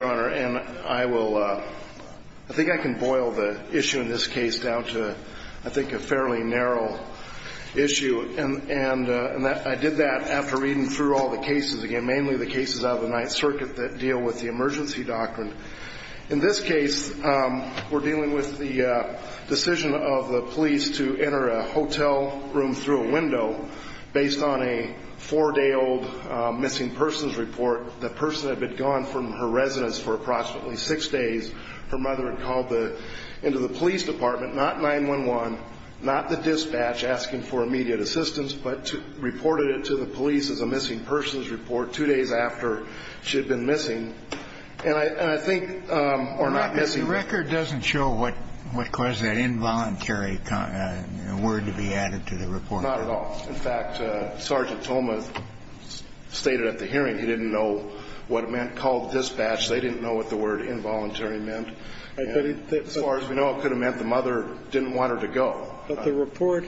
I think I can boil the issue in this case down to a fairly narrow issue, and I did that after reading through all the cases, mainly the cases out of the Ninth Circuit that deal with the emergency doctrine. In this case, we're dealing with the decision of the police to enter a hotel room through a window based on a four-day-old missing persons report. The person had been gone from her residence for approximately six days. Her mother had called into the police department, not 911, not the dispatch asking for immediate assistance, but reported it to the police as a missing persons report two days after she had been missing. And I think, or not missing. The record doesn't show what caused that involuntary word to be added to the report. Not at all. In fact, Sergeant Tolma stated at the hearing he didn't know what it meant, called dispatch. They didn't know what the word involuntary meant. As far as we know, it could have meant the mother didn't want her to go. But the report,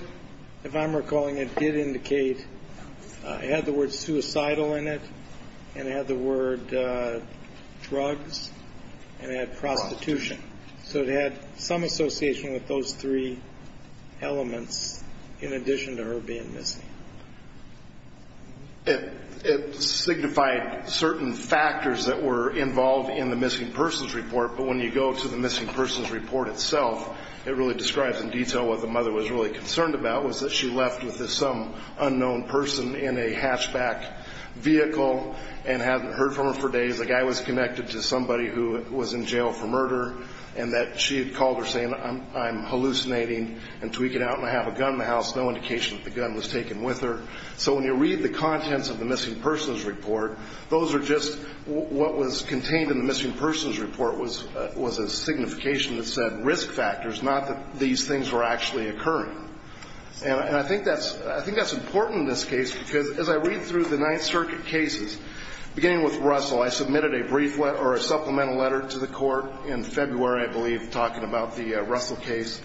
if I'm recalling it, did indicate it had the word suicidal in it, and it had the word drugs, and it had prostitution. So it had some association with those three elements in addition to her being missing. It signified certain factors that were involved in the missing persons report, but when you go to the missing persons report itself, it really describes in detail what the mother was really concerned about was that she left with some unknown person in a hatchback vehicle and hadn't heard from her for days. The guy was connected to somebody who was in jail for murder, and that she had called her saying, I'm hallucinating, and tweaking out, and I have a gun in the house. No indication that the gun was taken with her. So when you read the contents of the missing persons report, those are just what was contained in the missing persons report was a signification that said risk factors, not that these things were actually occurring. And I think that's important in this case because as I read through the Ninth Circuit cases, beginning with Russell, I submitted a brief letter or a supplemental letter to the court in February, I believe, talking about the Russell case.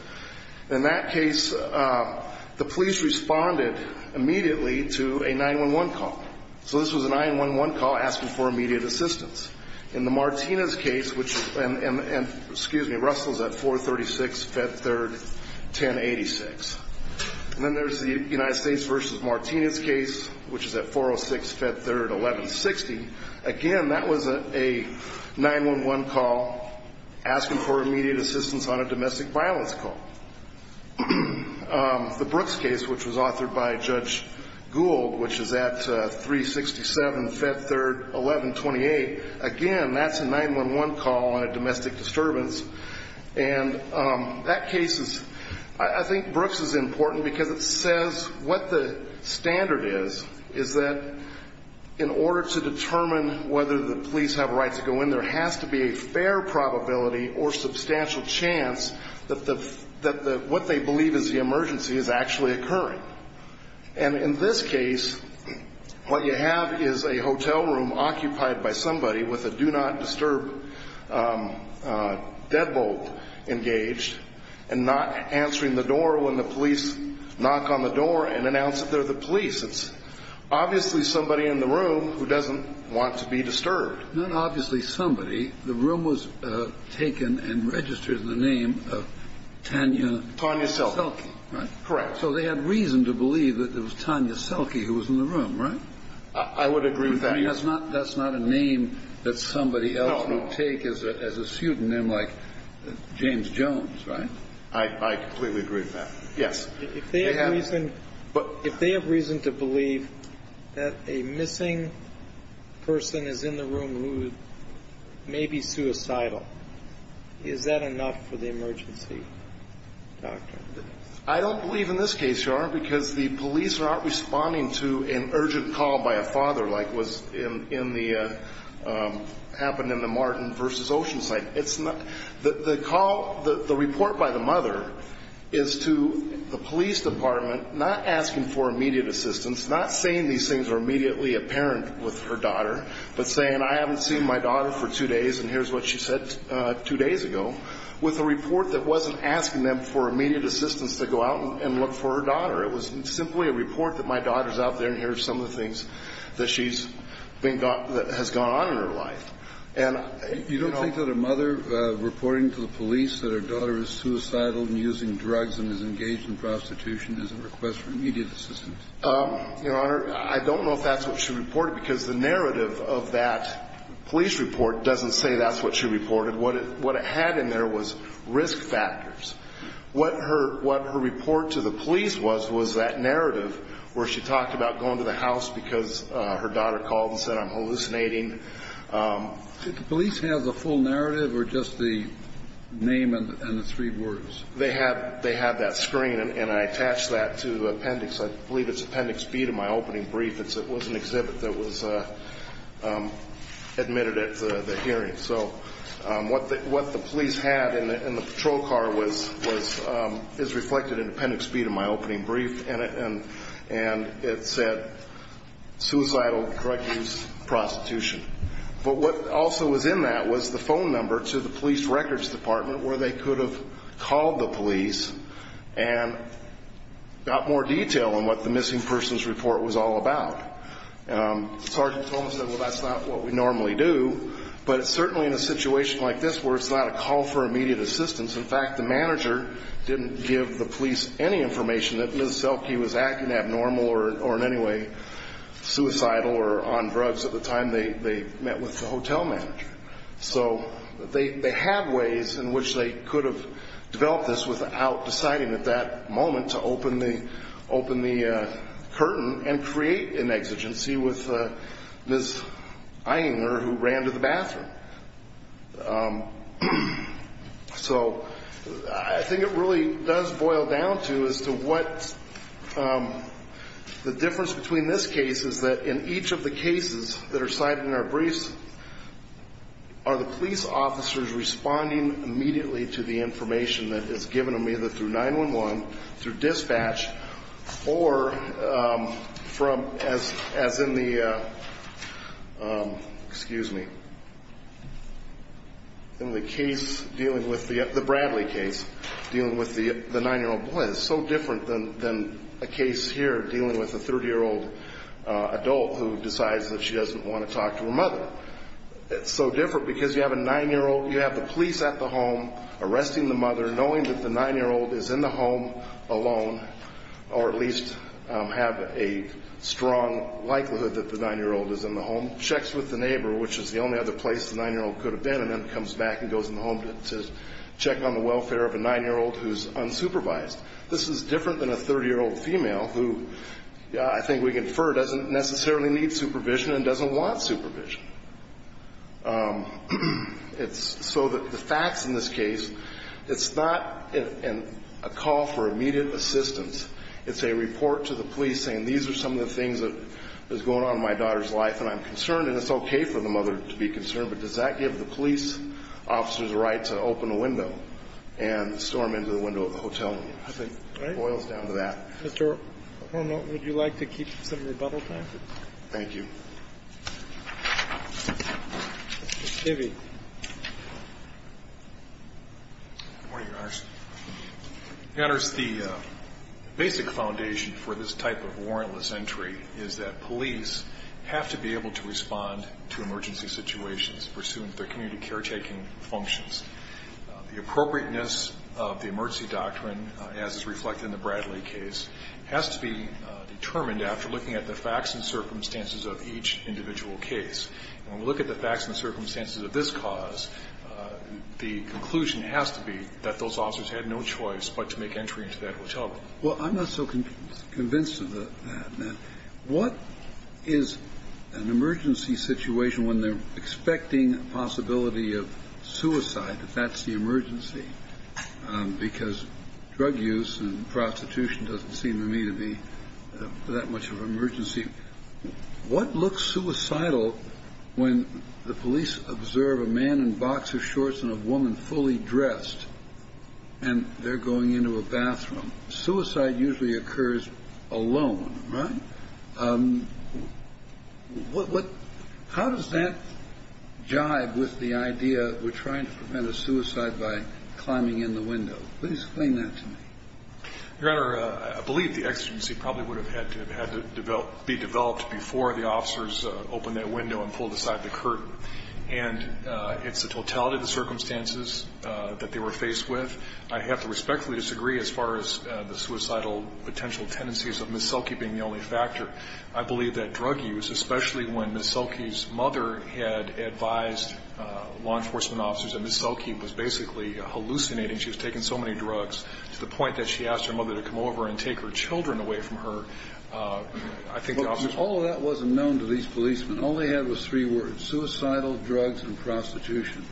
In that case, the police responded immediately to a 9-1-1 call. So this was a 9-1-1 call asking for immediate assistance. In the Martinez case, which, and excuse me, Russell's at 436, Fed Third, 1086. And then there's the United States versus Martinez case, which is at 406, Fed Third, 1160. Again, that was a 9-1-1 call asking for immediate assistance on a domestic violence call. The Brooks case, which was authored by Judge Gould, which is at 367, Fed Third, 1128. Again, that's a 9-1-1 call on a domestic disturbance. And that case is, I think Brooks is important because it says what the standard is, is that in order to determine whether the police have a right to go in, there has to be a fair probability or substantial chance that what they believe is the emergency is actually occurring. And in this case, what you have is a hotel room occupied by somebody with a do-not-disturb deadbolt engaged and not answering the door when the police knock on the door and announce that they're the police. It's obviously somebody in the room who doesn't want to be disturbed. Not obviously somebody. The room was taken and registered in the name of Tanya Selke, right? Correct. So they had reason to believe that it was Tanya Selke who was in the room, right? I would agree with that. That's not a name that somebody else would take as a pseudonym like James Jones, right? I completely agree with that. Yes. If they have reason to believe that a missing person is in the room who may be suicidal, is that enough for the emergency doctrine? I don't believe in this case, Your Honor, because the police are not responding to an urgent call by a father like was in the Martin v. Oceanside. The call, the report by the mother is to the police department not asking for immediate assistance, not saying these things are immediately apparent with her daughter, but saying I haven't seen my daughter for two days and here's what she said two days ago, with a report that wasn't asking them for immediate assistance to go out and look for her daughter. It was simply a report that my daughter's out there and here are some of the things that she has gone on in her life. You don't think that a mother reporting to the police that her daughter is suicidal and using drugs and is engaged in prostitution is a request for immediate assistance? Your Honor, I don't know if that's what she reported, because the narrative of that police report doesn't say that's what she reported. What it had in there was risk factors. What her report to the police was was that narrative where she talked about going to the house because her daughter called and said I'm hallucinating. Did the police have the full narrative or just the name and the three words? They had that screen and I attached that to appendix. I believe it's appendix B to my opening brief. It was an exhibit that was admitted at the hearing. So what the police had in the patrol car is reflected in appendix B to my opening brief, and it said suicidal, drug use, prostitution. But what also was in that was the phone number to the police records department where they could have called the police and got more detail on what the missing persons report was all about. Sergeant Thomas said, well, that's not what we normally do. But certainly in a situation like this where it's not a call for immediate assistance, in fact, the manager didn't give the police any information that Ms. Selke was acting abnormal or in any way suicidal or on drugs at the time they met with the hotel manager. So they had ways in which they could have developed this without deciding at that moment to open the curtain and create an exigency with Ms. Eyinger who ran to the bathroom. So I think it really does boil down to as to what the difference between this case is that in each of the cases that are cited in our briefs are the police officers responding immediately to the information that is given to them either through 911, through dispatch, or as in the Bradley case dealing with the 9-year-old boy. It's so different than a case here dealing with a 30-year-old adult who decides that she doesn't want to talk to her mother. It's so different because you have a 9-year-old, you have the police at the home arresting the mother, knowing that the 9-year-old is in the home alone or at least have a strong likelihood that the 9-year-old is in the home, checks with the neighbor, which is the only other place the 9-year-old could have been, and then comes back and goes in the home to check on the welfare of a 9-year-old who's unsupervised. This is different than a 30-year-old female who, I think we can infer, doesn't necessarily need supervision and doesn't want supervision. So the facts in this case, it's not a call for immediate assistance. It's a report to the police saying these are some of the things that are going on in my daughter's life, and I'm concerned, and it's okay for the mother to be concerned, but does that give the police officers the right to open a window and storm into the window of the hotel room? I think it boils down to that. Mr. O'Connell, would you like to keep some rebuttal time? Thank you. Mr. Tibby. Good morning, Your Honors. Your Honors, the basic foundation for this type of warrantless entry is that police have to be able to respond to emergency situations pursuant to their community caretaking functions. The appropriateness of the emergency doctrine, as is reflected in the Bradley case, has to be determined after looking at the facts and circumstances of each individual case. And when we look at the facts and circumstances of this cause, the conclusion has to be that those officers had no choice but to make entry into that hotel room. Well, I'm not so convinced of that. What is an emergency situation when they're expecting a possibility of suicide, that that's the emergency? Because drug use and prostitution doesn't seem to me to be that much of an emergency. What looks suicidal when the police observe a man in boxer shorts and a woman fully dressed and they're going into a bathroom? Suicide usually occurs alone. Right. How does that jive with the idea we're trying to prevent a suicide by climbing in the window? Please explain that to me. Your Honor, I believe the exigency probably would have had to be developed before the officers opened that window and pulled aside the curtain. And it's the totality of the circumstances that they were faced with. I have to respectfully disagree as far as the suicidal potential tendencies of Ms. Selke being the only factor. I believe that drug use, especially when Ms. Selke's mother had advised law enforcement officers that Ms. Selke was basically hallucinating, she was taking so many drugs, to the point that she asked her mother to come over and take her children away from her. All of that wasn't known to these policemen. All they had was three words, suicidal, drugs, and prostitution.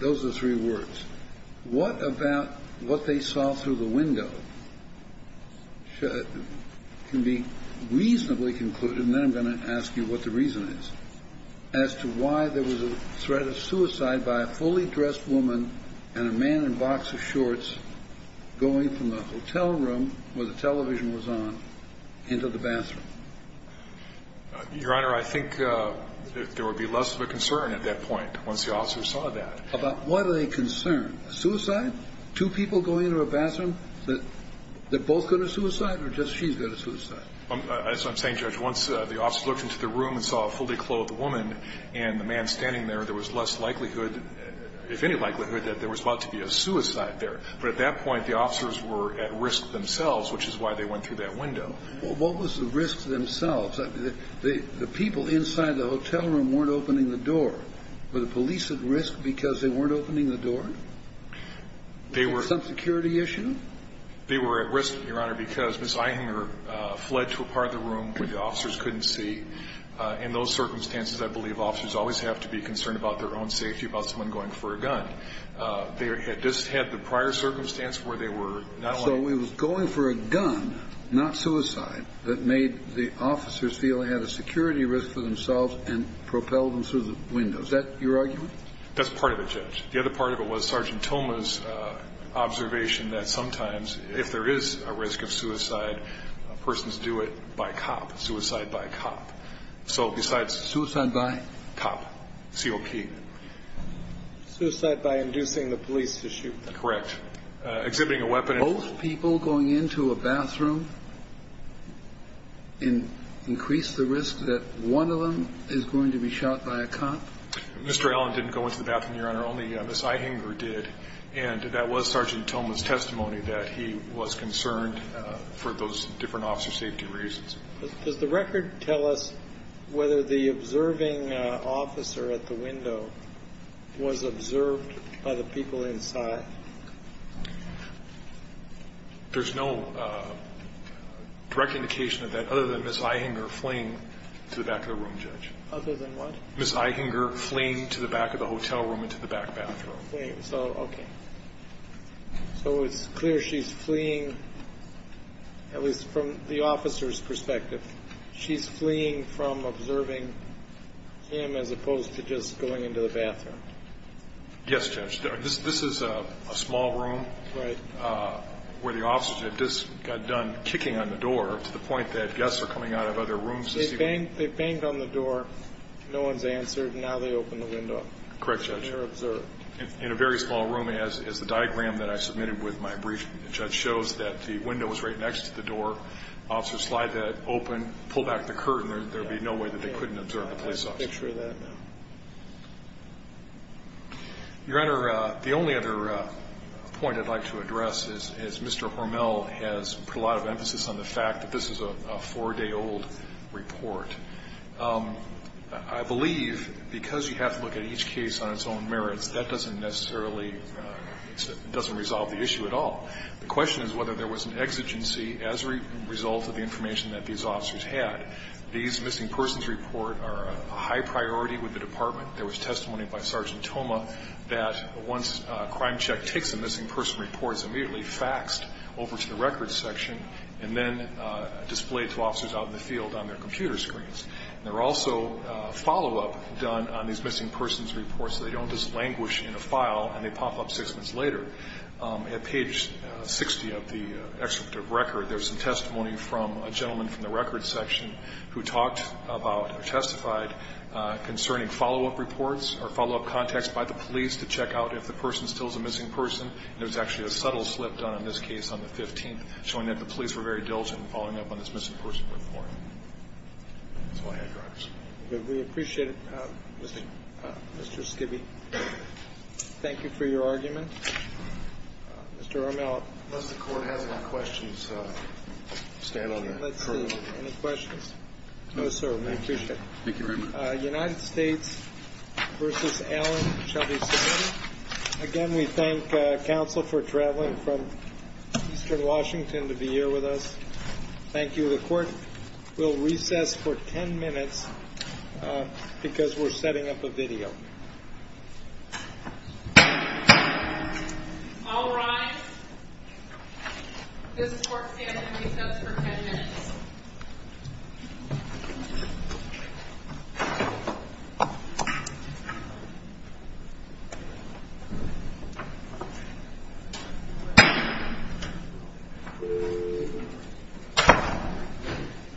Those are the three words. What about what they saw through the window can be reasonably concluded, and then I'm going to ask you what the reason is, as to why there was a threat of suicide by a fully dressed woman and a man in a box of shorts going from the hotel room where the television was on into the bathroom? Your Honor, I think there would be less of a concern at that point once the officers saw that. About what are they concerned? Suicide? Two people going into a bathroom? They're both going to suicide, or just she's going to suicide? That's what I'm saying, Judge. Once the officers looked into the room and saw a fully clothed woman and the man standing there, there was less likelihood, if any likelihood, that there was about to be a suicide there. But at that point, the officers were at risk themselves, which is why they went through that window. Well, what was the risk themselves? The people inside the hotel room weren't opening the door. Were the police at risk because they weren't opening the door? They were. Some security issue? They were at risk, Your Honor, because Ms. Eichinger fled to a part of the room where the officers couldn't see. In those circumstances, I believe officers always have to be concerned about their own safety, about someone going for a gun. They just had the prior circumstance where they were not only going for a gun, Is that your argument? That's part of it, Judge. The other part of it was Sergeant Toma's observation that sometimes if there is a risk of suicide, persons do it by cop, suicide by cop. So besides cop, COP. Suicide by inducing the police to shoot. Correct. Exhibiting a weapon. Did both people going into a bathroom increase the risk that one of them is going to be shot by a cop? Mr. Allen didn't go into the bathroom, Your Honor. Only Ms. Eichinger did. And that was Sergeant Toma's testimony that he was concerned for those different officer safety reasons. Does the record tell us whether the observing officer at the window was observed by the people inside? There's no direct indication of that other than Ms. Eichinger fleeing to the back of the room, Judge. Other than what? Ms. Eichinger fleeing to the back of the hotel room and to the back bathroom. Okay. So it's clear she's fleeing, at least from the officer's perspective, she's fleeing from observing him as opposed to just going into the bathroom. Yes, Judge. This is a small room. Right. Where the officer just got done kicking on the door to the point that guests are coming out of other rooms this evening. They banged on the door, no one's answered, and now they open the window. Correct, Judge. They're observed. In a very small room, as the diagram that I submitted with my brief, Judge, shows that the window was right next to the door. Officers slide that open, pull back the curtain. There would be no way that they couldn't observe the police officer. I can picture that. Your Honor, the only other point I'd like to address is Mr. Hormel has put a lot of emphasis on the fact that this is a four-day-old report. I believe because you have to look at each case on its own merits, that doesn't necessarily resolve the issue at all. The question is whether there was an exigency as a result of the information that these officers had. These missing persons reports are a high priority with the Department. There was testimony by Sergeant Toma that once a crime check takes a missing person report, it was immediately faxed over to the records section and then displayed to officers out in the field on their computer screens. There were also follow-up done on these missing persons reports so they don't just languish in a file and they pop up six minutes later. At page 60 of the executive record, there was some testimony from a gentleman from the records section who talked about or testified concerning follow-up reports or follow-up contacts by the police to check out if the person still is a missing person. There was actually a subtle slip done on this case on the 15th, showing that the police were very diligent in following up on this missing person report. That's all I had, Your Honor. We appreciate it, Mr. Skibbe. Thank you for your argument. Mr. O'Malley. Unless the Court has any questions, stand on your turn. Let's see. Any questions? No, sir. We appreciate it. Thank you very much. United States v. Allen, Shelby County. Again, we thank counsel for traveling from eastern Washington to be here with us. Thank you. The Court will recess for ten minutes because we're setting up a video. All rise. This Court stands to recess for ten minutes.